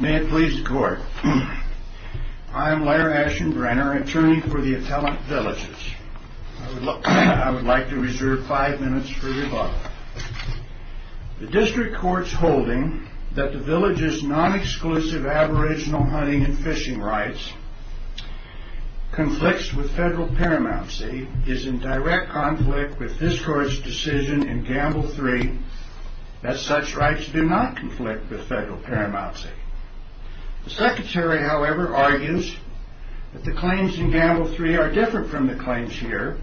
May it please the Court, I am Laird Ashenbrenner, attorney for the Italic Villages. I would like to reserve five minutes for rebuttal. The District Court's holding that the Villages' non-exclusive aboriginal hunting and fishing rights conflicts with federal paramountcy is in direct conflict with this Court's decision in Gamble 3 that such rights do not conflict with federal paramountcy. The Secretary, however, argues that the claims in Gamble 3 are different from the claims here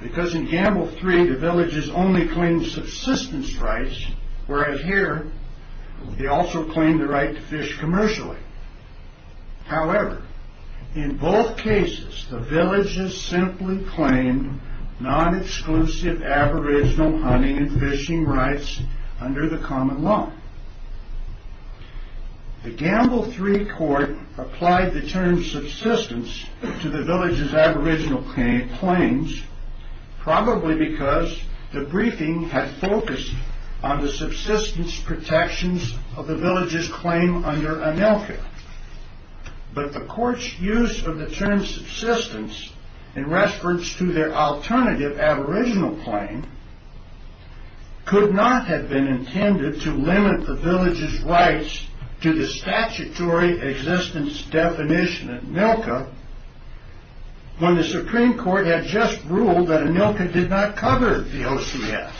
because in Gamble 3 the Villages only claimed subsistence rights, whereas here they also claimed the right to fish commercially. However, in both cases the Villages simply claimed non-exclusive aboriginal hunting and fishing rights under the common law. The Gamble 3 Court applied the term subsistence to the Villages' aboriginal claims, probably because the briefing had focused on the subsistence protections of the Villages' claim under ANILCA, but the Court's use of the term subsistence in reference to their alternative aboriginal claim could not have been intended to limit the Villages' rights to the statutory existence definition of ANILCA when the Supreme Court had just ruled that ANILCA did not cover the OCS.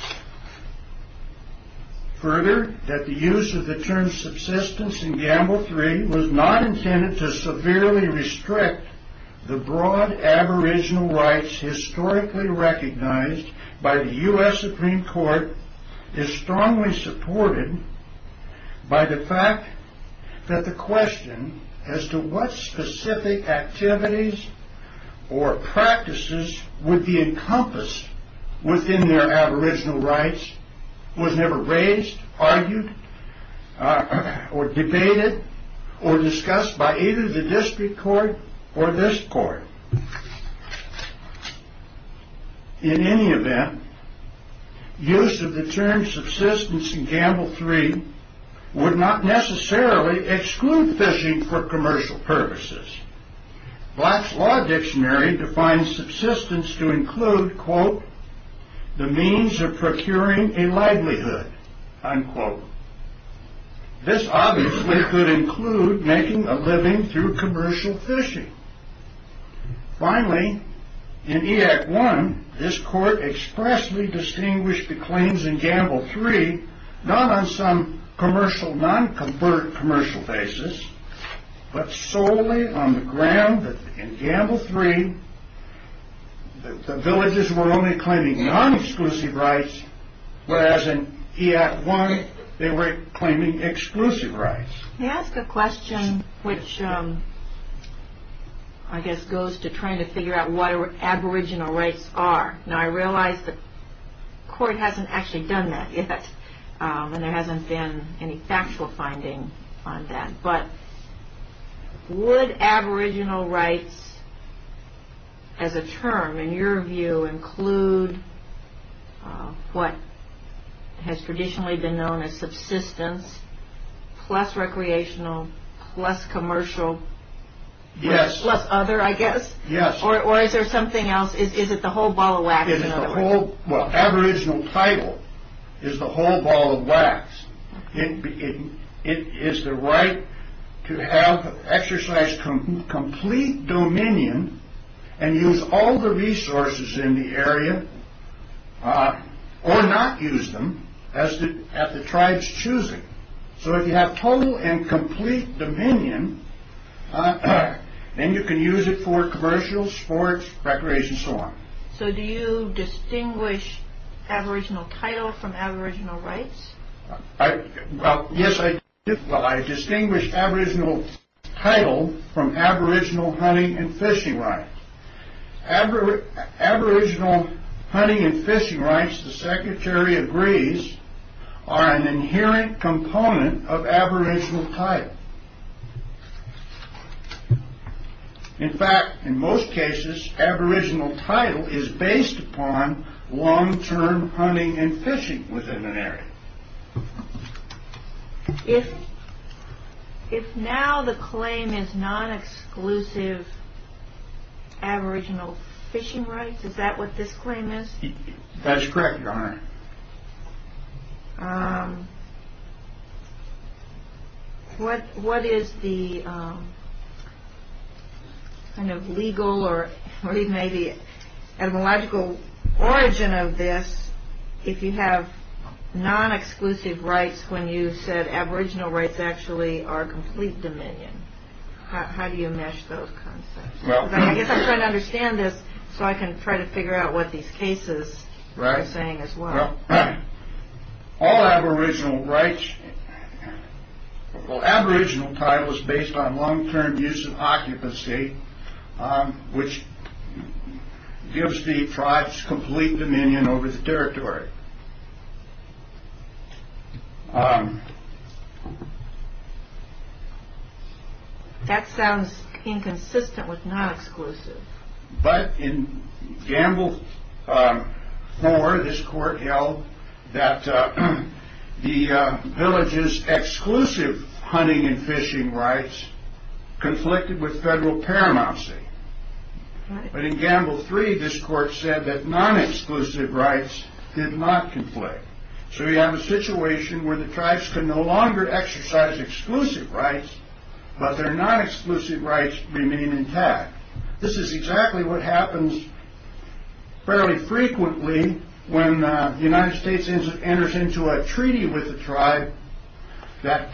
Further, that the use of the term subsistence in Gamble 3 was not intended to severely restrict the broad aboriginal rights historically recognized by the U.S. Supreme Court is strongly supported by the fact that the question as to what specific activities or practices would be encompassed within their aboriginal rights was never raised, argued, debated, or discussed by either the District Court or this Court. In any event, use of the term subsistence in Gamble 3 would not necessarily exclude fishing for commercial purposes. Black's Law Dictionary defines subsistence to include, quote, the means of procuring a livelihood, unquote. This obviously could include making a living through commercial fishing. Finally, in E. Act 1, this Court expressly distinguished the claims in Gamble 3 not on some non-commercial basis, but solely on the ground that in Gamble 3 the villages were only claiming non-exclusive rights, whereas in E. Act 1 they were claiming exclusive rights. May I ask a question which I guess goes to trying to figure out what aboriginal rights are? Now, I realize the Court hasn't actually done that yet, and there hasn't been any factual finding on that, but would aboriginal rights as a term, in your view, include what has traditionally been known as subsistence plus recreational, plus commercial, plus other, I guess? Yes. Or is there something else? Is it the whole ball of wax? Well, aboriginal title is the whole ball of wax. It is the right to have exercise complete dominion and use all the resources in the area, or not use them as the tribes choose it. So if you have total and complete dominion, then you can use it for commercial, sports, recreation, and so on. So do you distinguish aboriginal title from aboriginal rights? Yes, I do. I distinguish aboriginal title from aboriginal hunting and fishing rights. Aboriginal hunting and fishing rights, the Secretary agrees, are an inherent component of aboriginal title. In fact, in most cases, aboriginal title is based upon long-term hunting and fishing within an area. If now the claim is non-exclusive aboriginal fishing rights, is that what this claim is? That's correct, Your Honor. What is the kind of legal or even maybe etymological origin of this if you have non-exclusive rights when you said aboriginal rights actually are complete dominion? How do you mesh those concepts? I guess I'm trying to understand this so I can try to figure out what these cases are saying as well. All aboriginal rights, well, aboriginal title is based on long-term use and occupancy, which gives the tribes complete dominion over the territory. That sounds inconsistent with non-exclusive. But in Gamble 4, this court held that the villages' exclusive hunting and fishing rights conflicted with federal paramountcy. But in Gamble 3, this court said that non-exclusive rights did not conflict. So we have a situation where the tribes can no longer exercise exclusive rights, but their non-exclusive rights remain intact. This is exactly what happens fairly frequently when the United States enters into a treaty with a tribe that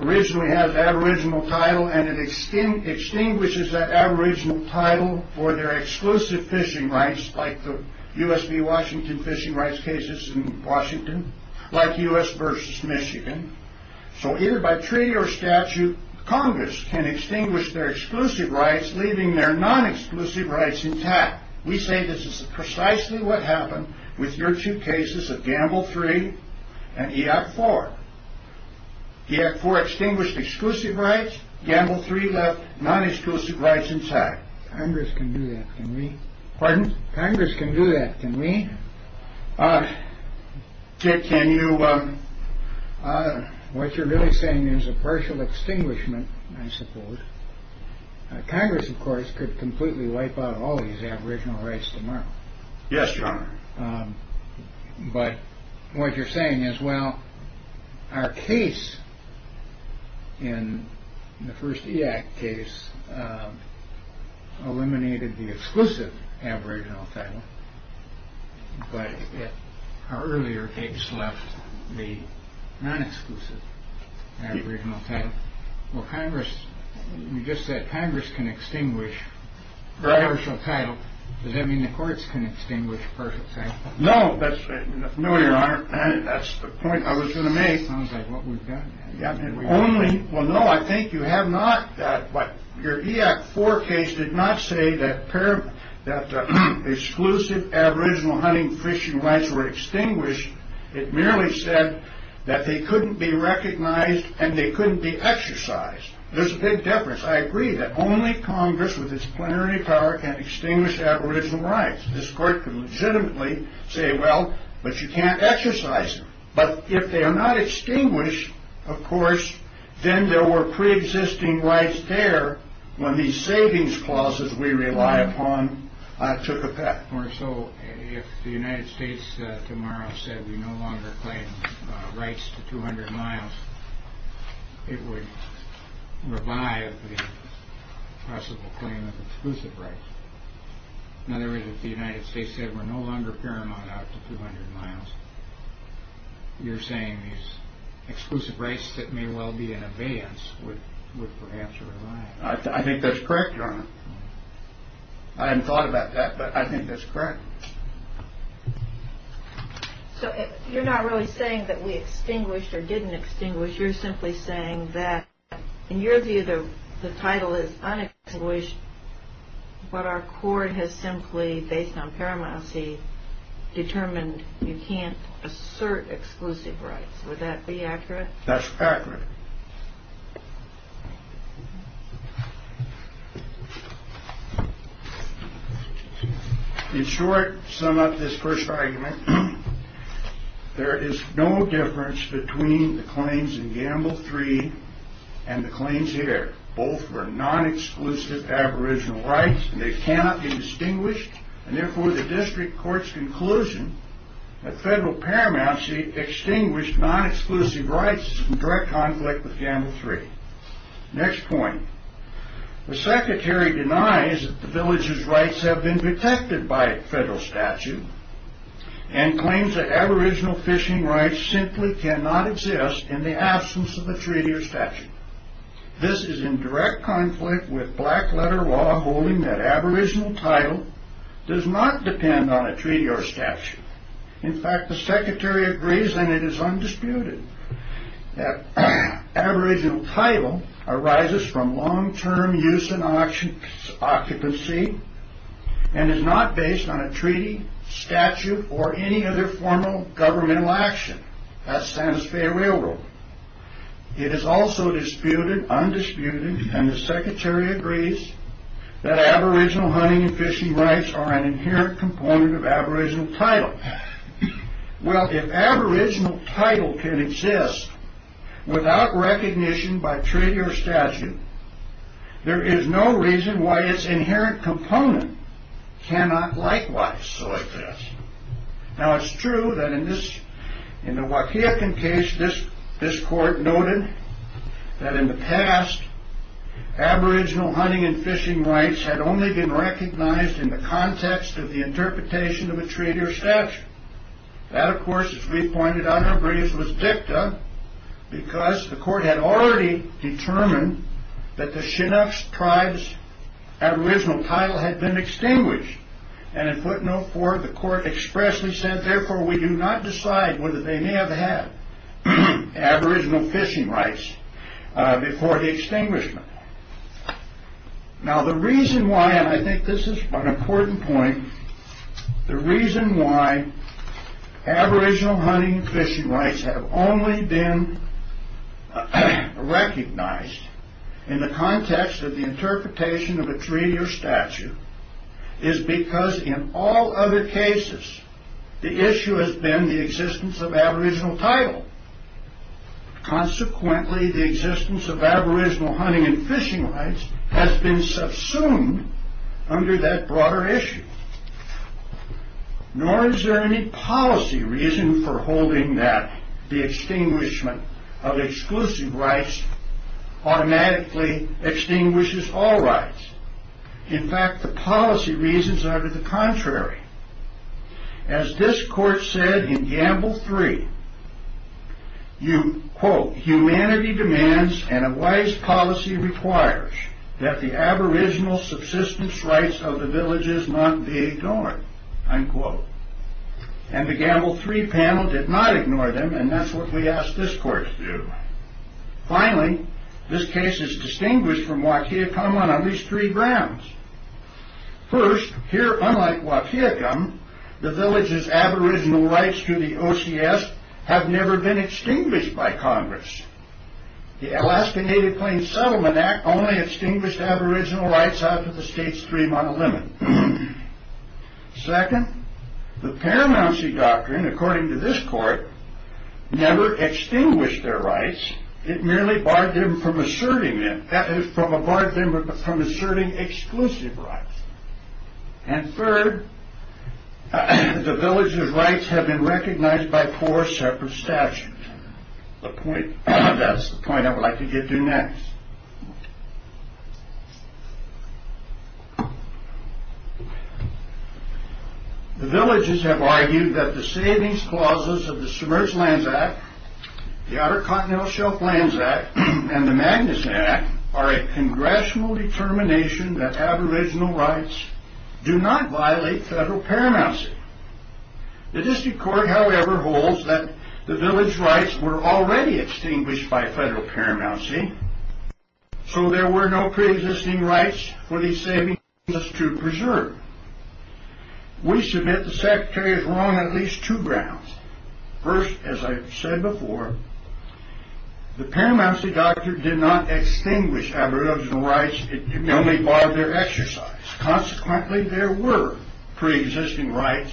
originally has aboriginal title and it extinguishes that aboriginal title for their exclusive fishing rights like the U.S. v. Washington fishing rights cases in Washington, like U.S. v. Michigan. So either by treaty or statute, Congress can extinguish their exclusive rights, leaving their non-exclusive rights intact. We say this is precisely what happened with your two cases of Gamble 3 and EAC 4. EAC 4 extinguished exclusive rights. Gamble 3 left non-exclusive rights intact. Congress can do that, can we? Pardon? Congress can do that, can we? Can you? What you're really saying is a partial extinguishment, I suppose. Congress, of course, could completely wipe out all these aboriginal rights tomorrow. Yes, Your Honor. But what you're saying is, well, our case in the first EAC case eliminated the exclusive aboriginal title, but our earlier case left the non-exclusive aboriginal title. Well, you just said Congress can extinguish the aboriginal title. Does that mean the courts can extinguish partial title? No, Your Honor. That's the point I was going to make. Sounds like what we've got. Well, no, I think you have not. Your EAC 4 case did not say that exclusive aboriginal hunting and fishing rights were extinguished. It merely said that they couldn't be recognized and they couldn't be exercised. There's a big difference. I agree that only Congress, with its plenary power, can extinguish aboriginal rights. This court can legitimately say, well, but you can't exercise them. But if they are not extinguished, of course, then there were pre-existing rights there when these savings clauses we rely upon took effect. More so, if the United States tomorrow said we no longer claim rights to 200 miles, it would revive the possible claim of exclusive rights. In other words, if the United States said we're no longer paramount out to 200 miles, you're saying these exclusive rights that may well be in abeyance would perhaps revive. I think that's correct, Your Honor. I hadn't thought about that, but I think that's correct. So you're not really saying that we extinguished or didn't extinguish. You're simply saying that, in your view, the title is unexcused, but our court has simply, based on paramountcy, determined you can't assert exclusive rights. Would that be accurate? That's accurate. In short, to sum up this first argument, there is no difference between the claims in Gamble 3 and the claims here. Both were non-exclusive aboriginal rights, and they cannot be distinguished, and therefore the district court's conclusion that federal paramountcy extinguished non-exclusive rights is in direct conflict with Gamble 3. Next point. The secretary denies that the villagers' rights have been protected by a federal statute and claims that aboriginal fishing rights simply cannot exist in the absence of a treaty or statute. This is in direct conflict with black-letter law holding that aboriginal title does not depend on a treaty or statute. In fact, the secretary agrees, and it is undisputed, that aboriginal title arises from long-term use and occupancy and is not based on a treaty, statute, or any other formal governmental action. That's Santa Fe Railroad. It is also disputed, undisputed, and the secretary agrees that aboriginal hunting and fishing rights are an inherent component of aboriginal title. Well, if aboriginal title can exist without recognition by treaty or statute, there is no reason why its inherent component cannot likewise so exist. Now, it's true that in the Waukegan case, this court noted that in the past, aboriginal hunting and fishing rights had only been recognized in the context of the interpretation of a treaty or statute. That, of course, as we pointed out, agrees with dicta because the court had already determined that the Chinook tribe's aboriginal title had been extinguished. And in footnote four, the court expressly said, therefore, we do not decide whether they may have had aboriginal fishing rights before the extinguishment. Now, the reason why, and I think this is an important point, the reason why aboriginal hunting and fishing rights have only been recognized is because in all other cases, the issue has been the existence of aboriginal title. Consequently, the existence of aboriginal hunting and fishing rights has been subsumed under that broader issue. Nor is there any policy reason for holding that the extinguishment of exclusive rights automatically extinguishes all rights. In fact, the policy reasons are to the contrary. As this court said in gamble three, you quote, humanity demands and a wise policy requires that the aboriginal subsistence rights of the villages not be ignored, unquote. And the gamble three panel did not ignore them, and that's what we asked this court to do. Finally, this case is distinguished from Waukegum on at least three grounds. First, here, unlike Waukegum, the villages' aboriginal rights to the OCS have never been extinguished by Congress. The Alaska Native Plains Settlement Act only extinguished aboriginal rights out to the state stream on a limit. Second, the Paramouncy Doctrine, according to this court, never extinguished their rights. It merely barred them from asserting exclusive rights. And third, the villages' rights have been recognized by four separate statutes. That's the point I would like to get to next. The villages have argued that the savings clauses of the Submerged Lands Act, the Outer Continental Shelf Lands Act, and the Magnus Act are a congressional determination that aboriginal rights do not violate federal paramouncy. The district court, however, holds that the village rights were already extinguished by federal paramouncy, so there were no pre-existing rights for these savings clauses to preserve. We submit the Secretary is wrong on at least two grounds. First, as I've said before, the Paramouncy Doctrine did not extinguish aboriginal rights. It merely barred their exercise. Consequently, there were pre-existing rights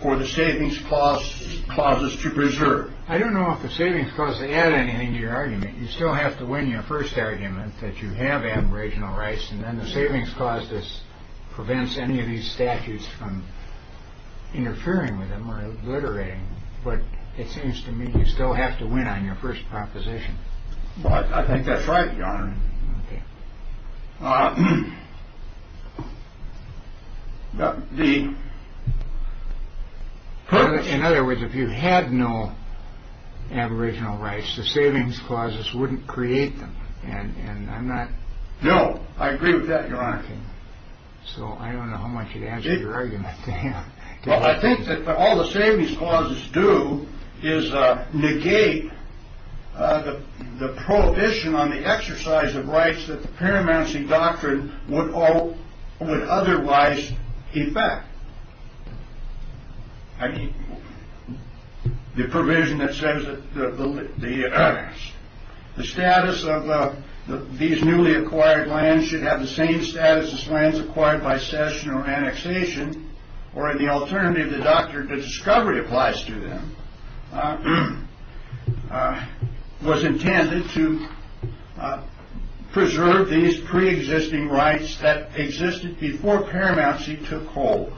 for the savings clauses to preserve. I don't know if the savings clauses add anything to your argument. You still have to win your first argument that you have aboriginal rights, and then the savings clause prevents any of these statutes from interfering with them or obliterating them. But it seems to me you still have to win on your first proposition. Well, I think that's right, Your Honor. In other words, if you had no aboriginal rights, the savings clauses wouldn't create them. No, I agree with that, Your Honor. So I don't know how much it adds to your argument. Well, I think that all the savings clauses do is negate the prohibition on the exercise of rights that the Paramouncy Doctrine would otherwise effect. I mean, the provision that says that the status of these newly acquired lands should have the same status as lands acquired by session or annexation. Or in the alternative, the doctrine of discovery applies to them, was intended to preserve these pre-existing rights that existed before Paramouncy took hold.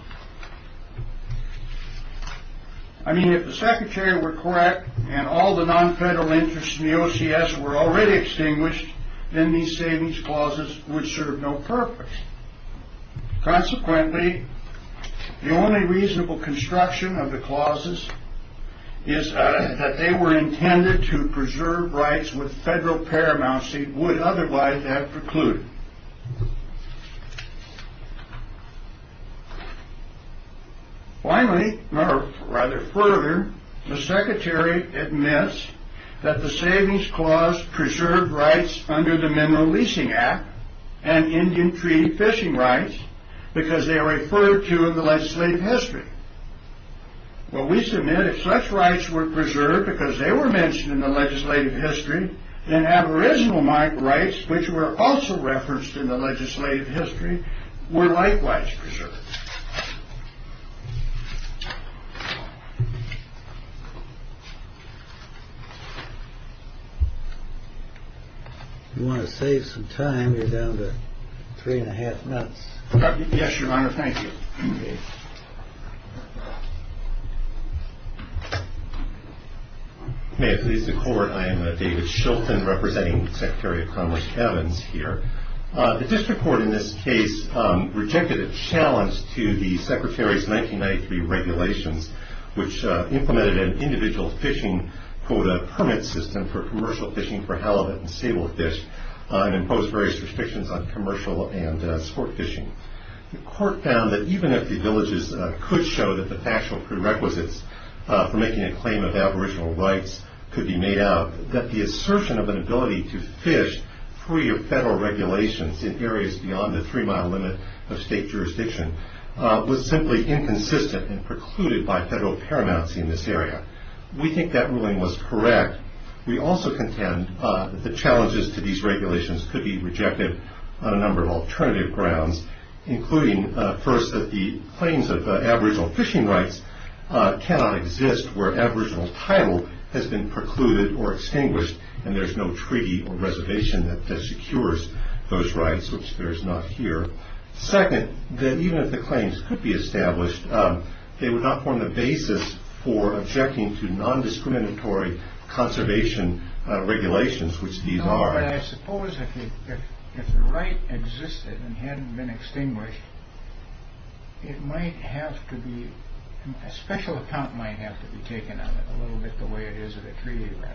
I mean, if the Secretary were correct and all the non-federal interests in the OCS were already extinguished, then these savings clauses would serve no purpose. Consequently, the only reasonable construction of the clauses is that they were intended to preserve rights with federal Paramouncy would otherwise have precluded. Finally, or rather further, the Secretary admits that the savings clause preserved rights under the Mineral Leasing Act and Indian Tree Fishing Rights because they are referred to in the legislative history. Well, we submit if such rights were preserved because they were mentioned in the legislative history, then aboriginal rights, which were also referenced in the legislative history, were likewise preserved. You want to save some time? You're down to three and a half minutes. Yes, Your Honor. Thank you. May it please the Court. I am David Shilton representing Secretary of Commerce Evans here. The District Court in this case rejected a challenge to the Secretary's 1993 regulations, which implemented an individual fishing quota permit system for commercial fishing for halibut and sable fish and imposed various restrictions on commercial and sport fishing. The Court found that even if the villages could show that the factual prerequisites for making a claim of aboriginal rights could be made out, that the assertion of an ability to fish free of federal regulations in areas beyond the three-mile limit of state jurisdiction was simply inconsistent and precluded by federal paramounts in this area. We think that ruling was correct. We also contend that the challenges to these regulations could be rejected on a number of alternative grounds, including, first, that the claims of aboriginal fishing rights cannot exist where aboriginal title has been precluded or extinguished and there's no treaty or reservation that secures those rights, which there's not here. Second, that even if the claims could be established, they would not form the basis for objecting to non-discriminatory conservation regulations, which these are. But I suppose if the right existed and hadn't been extinguished, a special account might have to be taken of it, a little bit the way it is of a treaty right.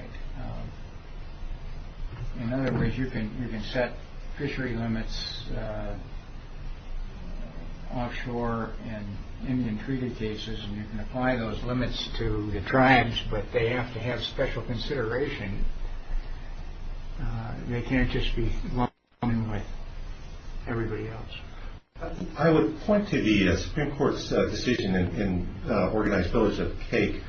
In other words, you can set fishery limits offshore in Indian treaty cases and you can apply those limits to the tribes, but they have to have special consideration. They can't just be along with everybody else. I would point to the Supreme Court's decision in Organized Village of Cake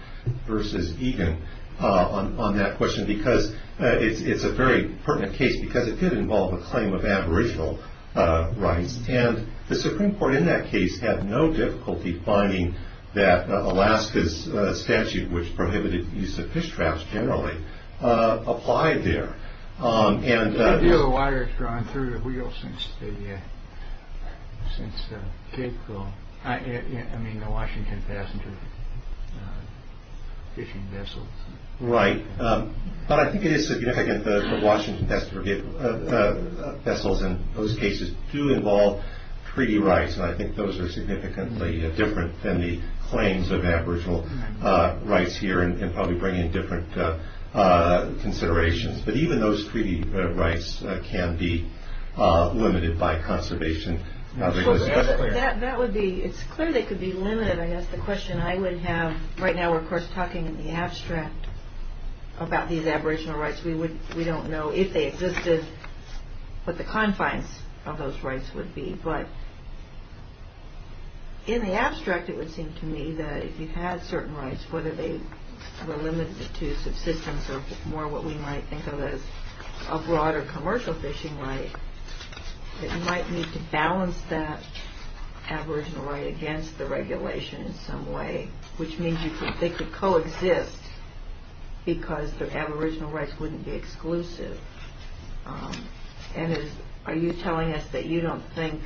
v. Egan on that question because it's a very pertinent case because it did involve a claim of aboriginal rights. The Supreme Court in that case had no difficulty finding that Alaska's statute, which prohibited the use of fish traps generally, applied there. The deal of water has gone through the wheel since the Washington passenger fishing vessels. Right, but I think it is significant that the Washington vessels and those cases do involve treaty rights, and I think those are significantly different than the claims of aboriginal rights here, and probably bring in different considerations. But even those treaty rights can be limited by conservation. It's clear they could be limited. I guess the question I would have, right now we're, of course, talking in the abstract about these aboriginal rights. We don't know if they existed, what the confines of those rights would be, but in the abstract it would seem to me that if you had certain rights, whether they were limited to subsistence or more what we might think of as a broader commercial fishing right, that you might need to balance that aboriginal right against the regulation in some way, which means they could coexist because their aboriginal rights wouldn't be exclusive. And are you telling us that you don't think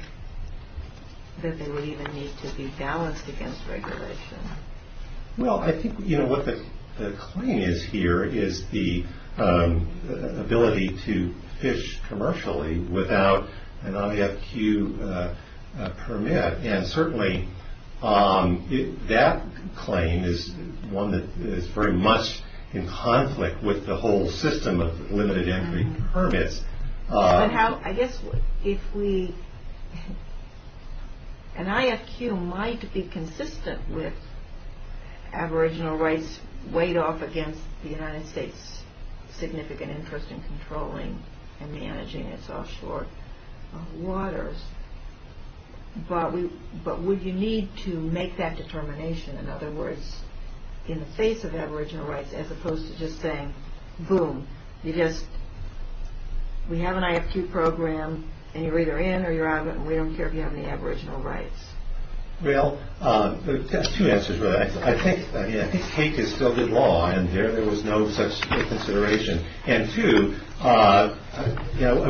that they would even need to be balanced against regulation? Well, I think what the claim is here is the ability to fish commercially without an IFQ permit, and certainly that claim is one that is very much in conflict with the whole system of limited entry permits. I guess if we, an IFQ might be consistent with aboriginal rights weighed off against the United States' significant interest in controlling and managing its offshore waters, but would you need to make that determination? In other words, in the face of aboriginal rights, as opposed to just saying, boom, we have an IFQ program and you're either in or you're out, and we don't care if you have any aboriginal rights. Well, there are two answers to that. I think cake is still good law, and there was no such consideration. And two, I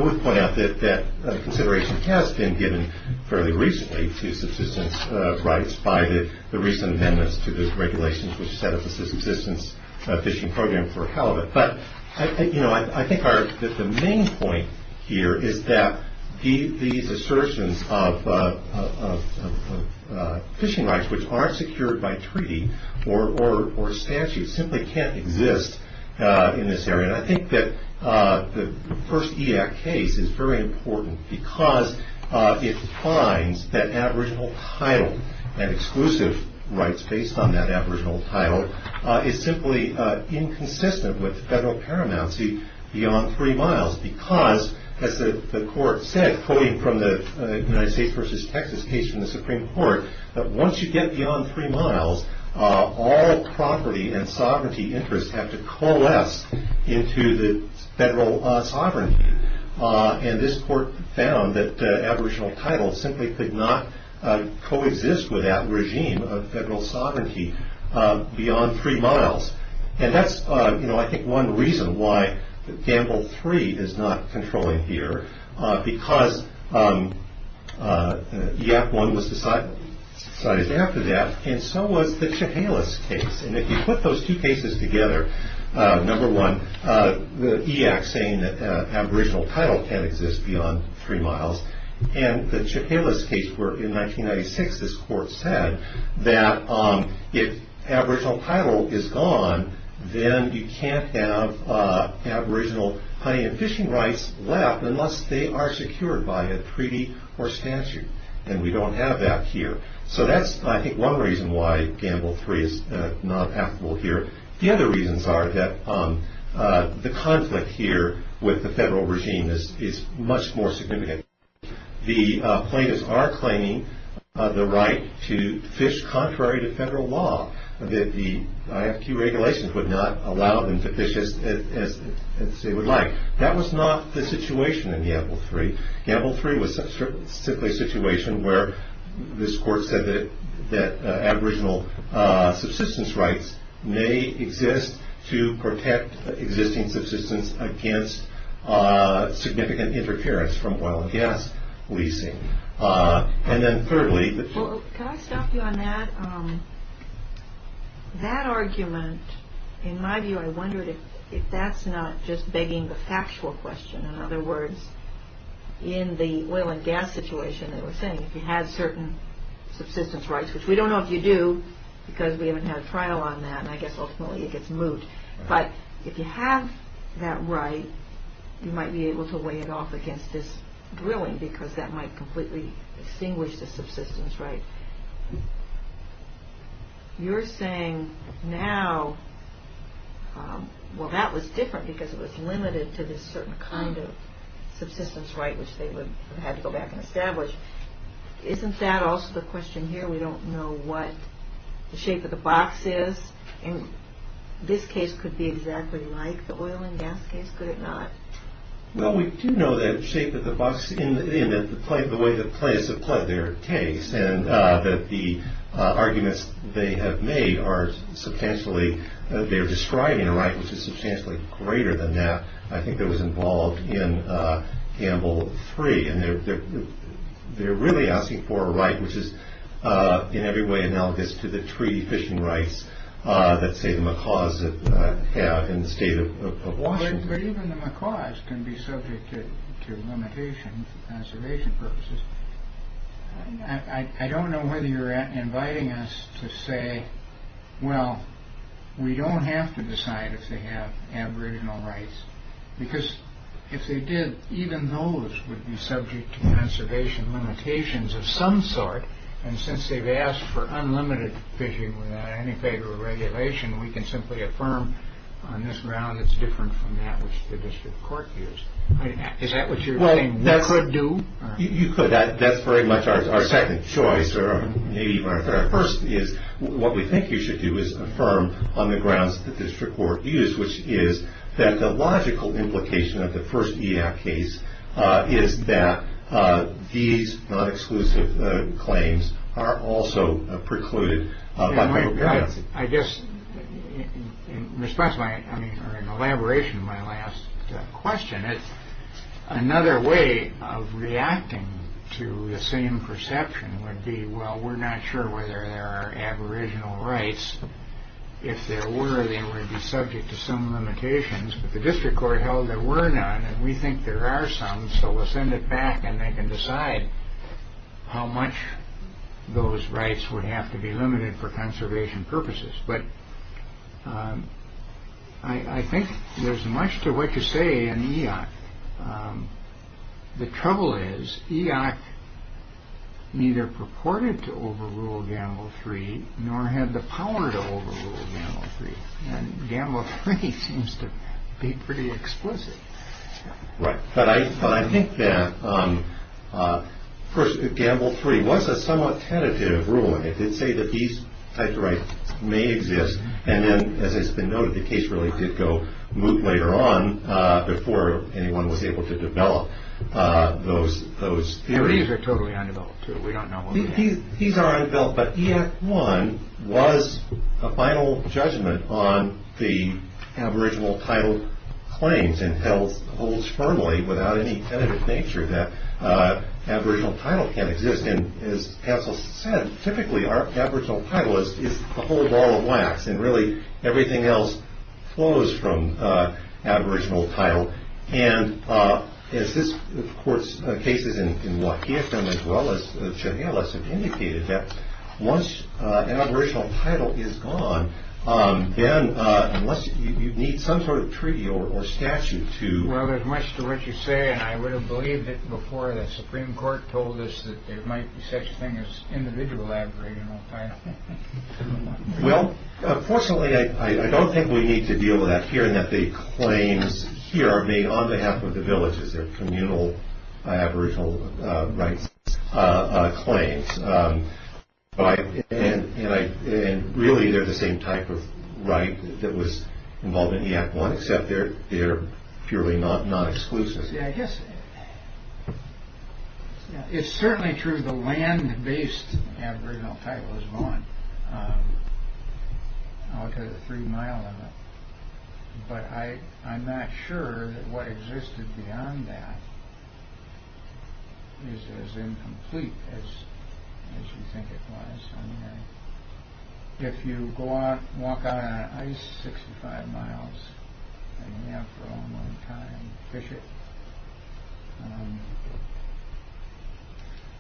would point out that consideration has been given fairly recently to subsistence rights by the recent amendments to the regulations which set up the subsistence fishing program for Halibut. But I think the main point here is that these assertions of fishing rights, which aren't secured by treaty or statute, simply can't exist in this area. And I think that the first EAC case is very important because it defines that aboriginal title and exclusive rights based on that aboriginal title is simply inconsistent with federal paramountcy beyond three miles because, as the court said, quoting from the United States v. Texas case in the Supreme Court, that once you get beyond three miles, all property and sovereignty interests have to coalesce into the federal sovereignty. And this court found that aboriginal title simply could not coexist with that regime of federal sovereignty beyond three miles. And that's, you know, I think one reason why Gamble III is not controlling here because EAC I was decided after that, and so was the Chehalis case. And if you put those two cases together, number one, the EAC saying that aboriginal title can't exist beyond three miles, and the Chehalis case where in 1996 this court said that if aboriginal title is gone, then you can't have aboriginal hunting and fishing rights left unless they are secured by a treaty or statute. And we don't have that here. So that's, I think, one reason why Gamble III is not applicable here. The other reasons are that the conflict here with the federal regime is much more significant. The plaintiffs are claiming the right to fish contrary to federal law, that the IFQ regulations would not allow them to fish as they would like. That was not the situation in Gamble III. Gamble III was simply a situation where this court said that aboriginal subsistence rights may exist to protect existing subsistence against significant interference from violent gas leasing. And then thirdly- Can I stop you on that? That argument, in my view, I wondered if that's not just begging the factual question. In other words, in the oil and gas situation, they were saying if you had certain subsistence rights, which we don't know if you do because we haven't had a trial on that, and I guess ultimately it gets moot. But if you have that right, you might be able to weigh it off against this drilling because that might completely extinguish the subsistence right. You're saying now, well, that was different because it was limited to this certain kind of subsistence right, which they would have had to go back and establish. Isn't that also the question here? We don't know what the shape of the box is. And this case could be exactly like the oil and gas case, could it not? Well, we do know the shape of the box and the way the players have played their case and that the arguments they have made are substantially- they're describing a right which is substantially greater than that. I think that was involved in Gamble 3. And they're really asking for a right which is in every way analogous to the treaty fishing rights that, say, the Macaws have in the state of Washington. But even the Macaws can be subject to limitations for conservation purposes. I don't know whether you're inviting us to say, well, we don't have to decide if they have aboriginal rights because if they did, even those would be subject to conservation limitations of some sort. And since they've asked for unlimited fishing without any favor of regulation, we can simply affirm on this ground it's different from that which the district court used. Is that what you're saying we could do? You could. That's very much our second choice or maybe even our third. Our first is what we think you should do is affirm on the grounds that the district court used, which is that the logical implication of the first EF case is that these non-exclusive claims are also precluded. I guess in response or in elaboration to my last question, another way of reacting to the same perception would be, well, we're not sure whether there are aboriginal rights. If there were, they would be subject to some limitations. But the district court held there were none. And we think there are some, so we'll send it back. And they can decide how much those rights would have to be limited for conservation purposes. But I think there's much to what you say in EOC. The trouble is EOC neither purported to overrule Gamble 3 nor had the power to overrule Gamble 3. And Gamble 3 seems to be pretty explicit. Right. But I think that Gamble 3 was a somewhat tentative ruling. It did say that these types of rights may exist. And then, as has been noted, the case really did go moot later on before anyone was able to develop those theories. These are totally undeveloped. We don't know what we have. These are undeveloped. But EAC 1 was a final judgment on the aboriginal title claims and holds firmly without any tentative nature that aboriginal title can exist. And as Cassell said, typically our aboriginal title is a whole ball of wax, and really everything else flows from aboriginal title. And as this court's cases in Waukegan as well as Chehalis have indicated, that once an aboriginal title is gone, then unless you need some sort of treaty or statute to... Well, there's much to what you say, and I would have believed it before the Supreme Court told us that there might be such a thing as individual aboriginal title. Well, unfortunately, I don't think we need to deal with that here, in that the claims here are made on behalf of the villages, they're communal aboriginal rights claims. And really, they're the same type of right that was involved in EAC 1, except they're purely non-exclusive. Yeah, I guess... It's certainly true the land-based aboriginal title is gone, all because of the three-mile limit. But I'm not sure that what existed beyond that is as incomplete as you think it was. If you walk out on an ice 65 miles, and you have for a long time to fish it,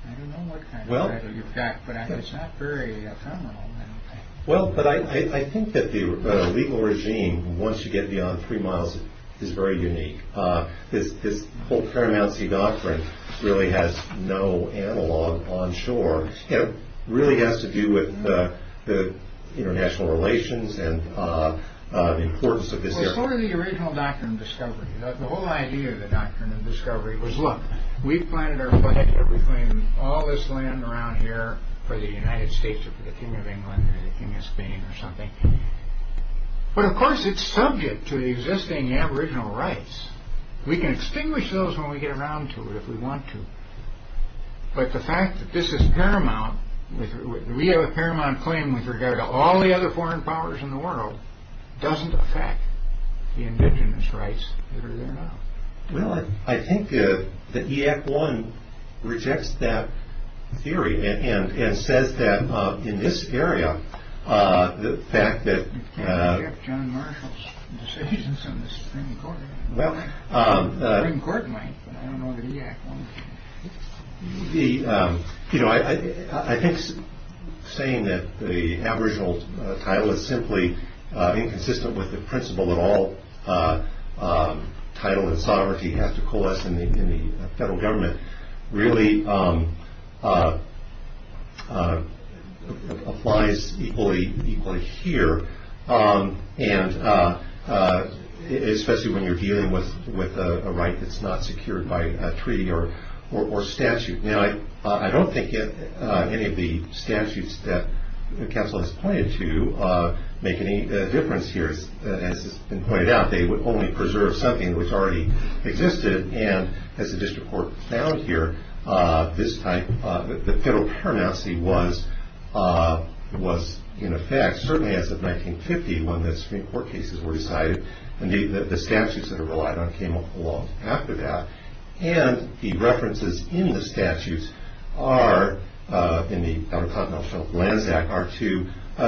I don't know what kind of title you've got, but it's not very ephemeral. Well, but I think that the legal regime, once you get beyond three miles, is very unique. This whole paramouncy doctrine really has no analog on shore. It really has to do with the international relations and importance of this area. Well, it's part of the original doctrine of discovery. The whole idea of the doctrine of discovery was, look, we've planted our foot in everything, all this land around here, for the United States, or for the Kingdom of England, or the Kingdom of Spain, or something. But of course, it's subject to the existing aboriginal rights. We can extinguish those when we get around to it, if we want to. But the fact that this is paramount, we have a paramount claim with regard to all the other foreign powers in the world, doesn't affect the indigenous rights that are there now. Well, I think the EAC-1 rejects that theory and says that in this area, the fact that- You can't reject John Marshall's decisions in the Supreme Court. The Supreme Court might, but I don't know the EAC-1. I think saying that the aboriginal title is simply inconsistent with the principle that all title and sovereignty have to coalesce in the federal government really applies equally here. And especially when you're dealing with a right that's not secured by a treaty or statute. Now, I don't think any of the statutes that counsel has pointed to make any difference here. As has been pointed out, they would only preserve something which already existed. And as the district court found here, the federal paramountcy was in effect, certainly as of 1950 when the Supreme Court cases were decided, and the statutes that are relied on came along after that. And the references in the statutes are, in the Autocognition Lands Act, are to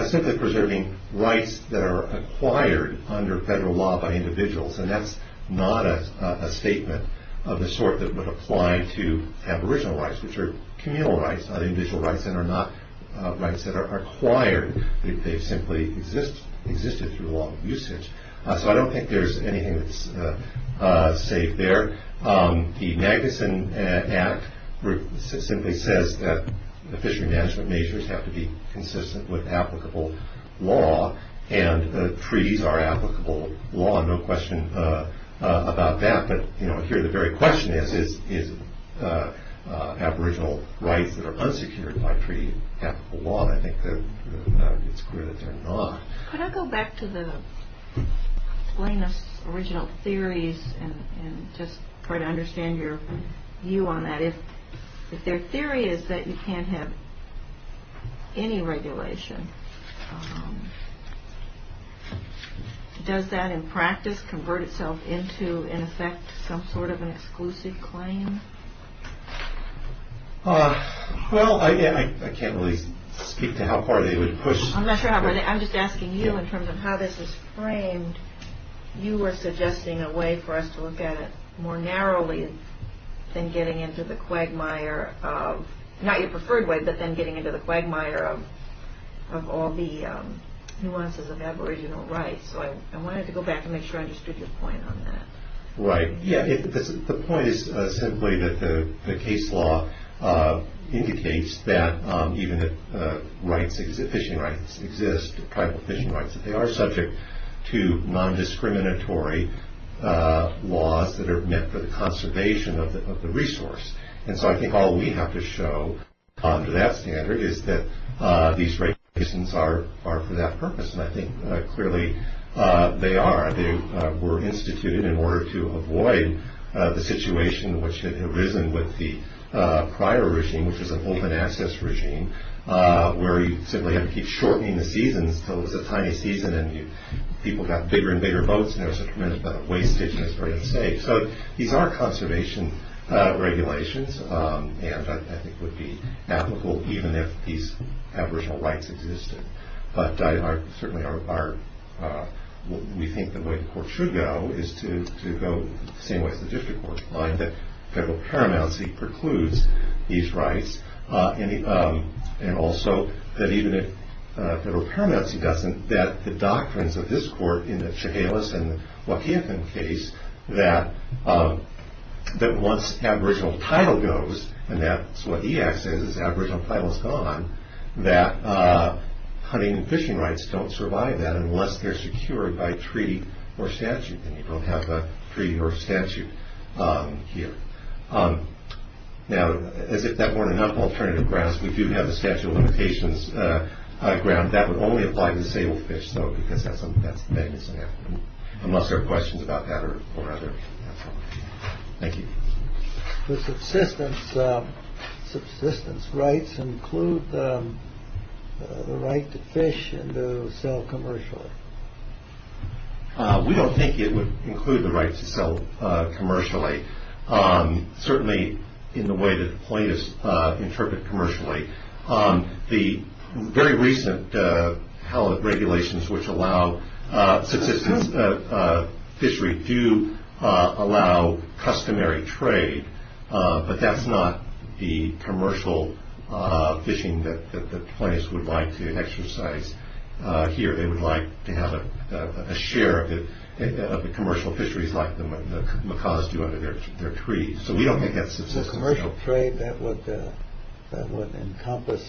simply preserving rights that are acquired under federal law by individuals. And that's not a statement of the sort that would apply to aboriginal rights, which are communal rights, not individual rights, and are not rights that are acquired. They've simply existed through long usage. So I don't think there's anything that's saved there. The Magnuson Act simply says that the fishery management measures have to be consistent with applicable law, and the treaties are applicable law, no question about that. But, you know, here the very question is, is aboriginal rights that are unsecured by treaty applicable law? And I think it's clear that they're not. Could I go back to the plaintiff's original theories and just try to understand your view on that? If their theory is that you can't have any regulation, does that in practice convert itself into, in effect, some sort of an exclusive claim? Well, again, I can't really speak to how far they would push. I'm not sure how, but I'm just asking you in terms of how this is framed. You were suggesting a way for us to look at it more narrowly than getting into the quagmire of, not your preferred way, but then getting into the quagmire of all the nuances of aboriginal rights. So I wanted to go back and make sure I understood your point on that. Right. Yeah. The point is simply that the case law indicates that even if fishing rights exist, tribal fishing rights, that they are subject to nondiscriminatory laws that are meant for the conservation of the resource. And so I think all we have to show to that standard is that these regulations are for that purpose, and I think clearly they are. They were instituted in order to avoid the situation which had arisen with the prior regime, which was an open access regime where you simply had to keep shortening the seasons until it was a tiny season and people got bigger and bigger boats, and there was a tremendous amount of wastage and it was very unsafe. So these are conservation regulations, and I think would be applicable even if these aboriginal rights existed. But certainly we think the way the court should go is to go the same way as the district court, find that federal paramountcy precludes these rights, and also that even if federal paramountcy doesn't, that the doctrines of this court in the Chehalis and Wakiathan case, that once aboriginal title goes, and that's what EAC says is aboriginal title is gone, that hunting and fishing rights don't survive that unless they're secured by treaty or statute, and you don't have a treaty or statute here. Now, as if that weren't enough alternative grounds, we do have the statute of limitations ground. But that would only apply to disabled fish, though, because that's the biggest thing. Unless there are questions about that or other, that's all. Thank you. The subsistence rights include the right to fish and to sell commercially. We don't think it would include the right to sell commercially, certainly in the way that plaintiffs interpret commercially. The very recent regulations which allow subsistence fishery do allow customary trade, but that's not the commercial fishing that the plaintiffs would like to exercise here. They would like to have a share of the commercial fisheries like the Macaws do under their trees. So we don't think that's subsistence trade. Commercial trade, that would encompass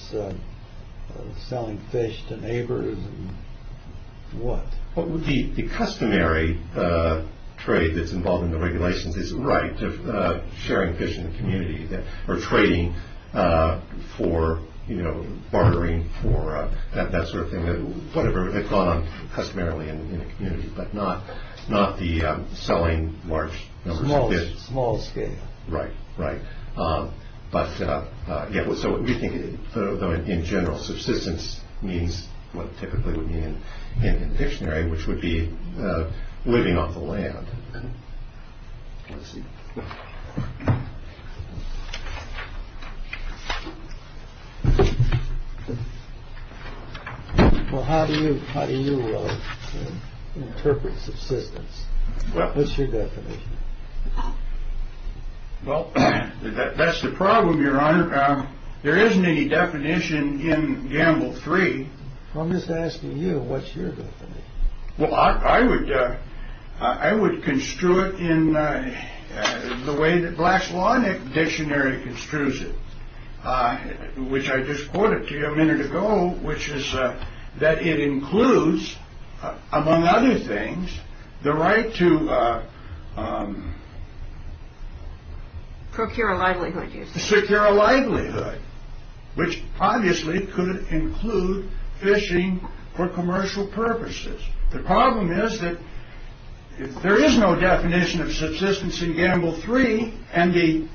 selling fish to neighbors and what? The customary trade that's involved in the regulations is the right to sharing fish in the community or trading for bartering for that sort of thing, whatever they've gone on customarily in the community, but not the selling large numbers of fish. Small scale. Right, right. But so we think in general subsistence means what typically would mean in the dictionary, which would be living off the land. Well, how do you how do you interpret subsistence? What's your definition? Well, that's the problem, Your Honor. There isn't any definition in Gamble three. I'm just asking you what's your. I would I would construe it in the way that Black's Law Dictionary construes it, which I just quoted to you a minute ago, which is that it includes, among other things, the right to secure a livelihood, which obviously could include fishing for commercial purposes. The problem is that there is no definition of subsistence in Gamble three, and the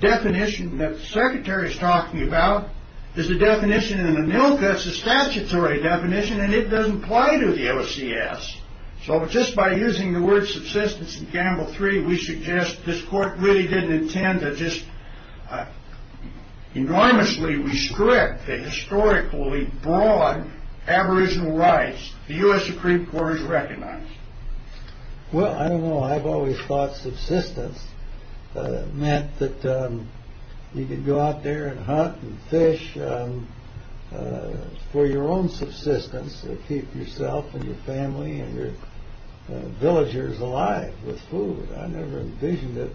definition that the secretary is talking about is the definition in the Milka, it's a statutory definition, and it doesn't apply to the OCS. So just by using the word subsistence in Gamble three, we suggest this court really didn't intend to just enormously restrict the historically broad aboriginal rights the U.S. Supreme Court has recognized. Well, I don't know. I've always thought subsistence meant that you could go out there and hunt and fish for your own subsistence to keep yourself and your family and your villagers alive with food. I never envisioned it.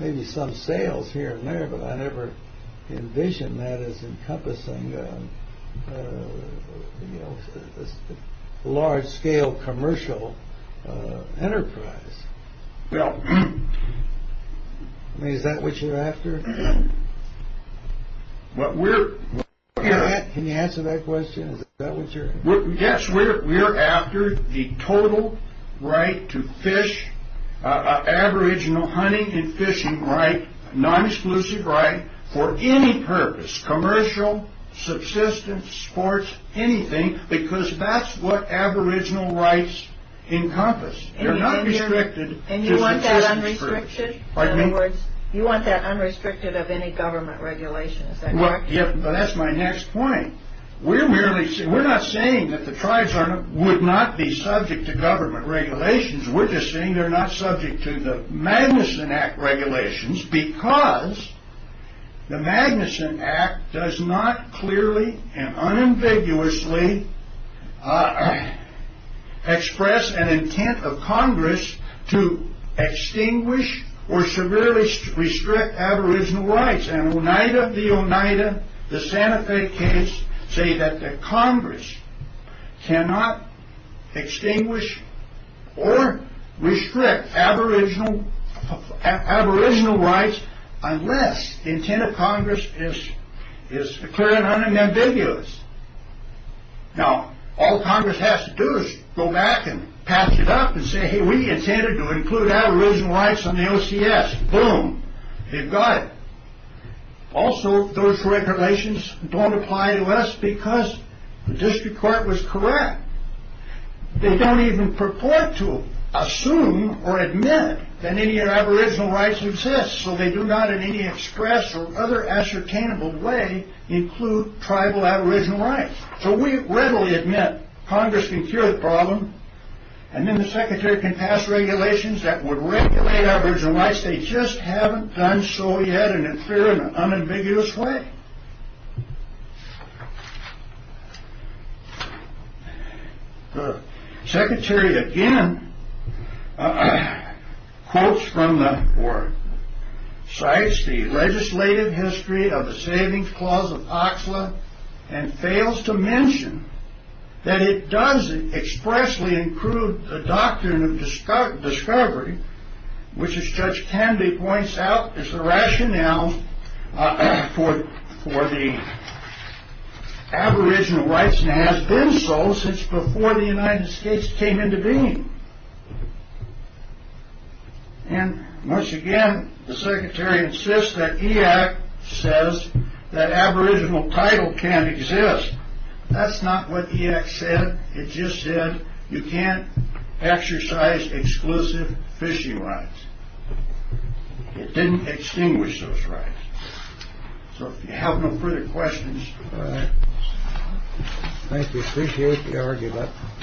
Maybe some sales here and there, but I never envisioned that as encompassing a large-scale commercial enterprise. Well, I mean, is that what you're after? Can you answer that question? Is that what you're after? Yes, we're after the total right to fish, an aboriginal hunting and fishing right, a non-exclusive right for any purpose, commercial, subsistence, sports, anything, because that's what aboriginal rights encompass. They're not restricted to subsistence purposes. And you want that unrestricted? Pardon me? In other words, you want that unrestricted of any government regulations, is that correct? Yes, but that's my next point. We're not saying that the tribes would not be subject to government regulations. We're just saying they're not subject to the Magnuson Act regulations because the Magnuson Act does not clearly and unambiguously express an intent of Congress to extinguish or severely restrict aboriginal rights. In Oneida v. Oneida, the Santa Fe case, say that the Congress cannot extinguish or restrict aboriginal rights unless the intent of Congress is clear and unambiguous. Now, all Congress has to do is go back and patch it up and say, hey, we intended to include aboriginal rights on the OCS. Boom. They've got it. Also, those regulations don't apply to us because the district court was correct. They don't even purport to assume or admit that any aboriginal rights exist, so they do not in any express or other ascertainable way include tribal aboriginal rights. So, we readily admit Congress can cure the problem and then the secretary can pass regulations that would regulate aboriginal rights. They just haven't done so yet in a clear and unambiguous way. The secretary again quotes from the work, cites the legislative history of the Savings Clause of OCSLA and fails to mention that it does expressly include the Doctrine of Discovery, which, as Judge Candy points out, is the rationale for the aboriginal rights and has been so since before the United States came into being. And, once again, the secretary insists that EAC says that aboriginal title can't exist. That's not what EAC said. It just said you can't exercise exclusive fishing rights. It didn't extinguish those rights. So, if you have no further questions. Thank you. Appreciate the argument.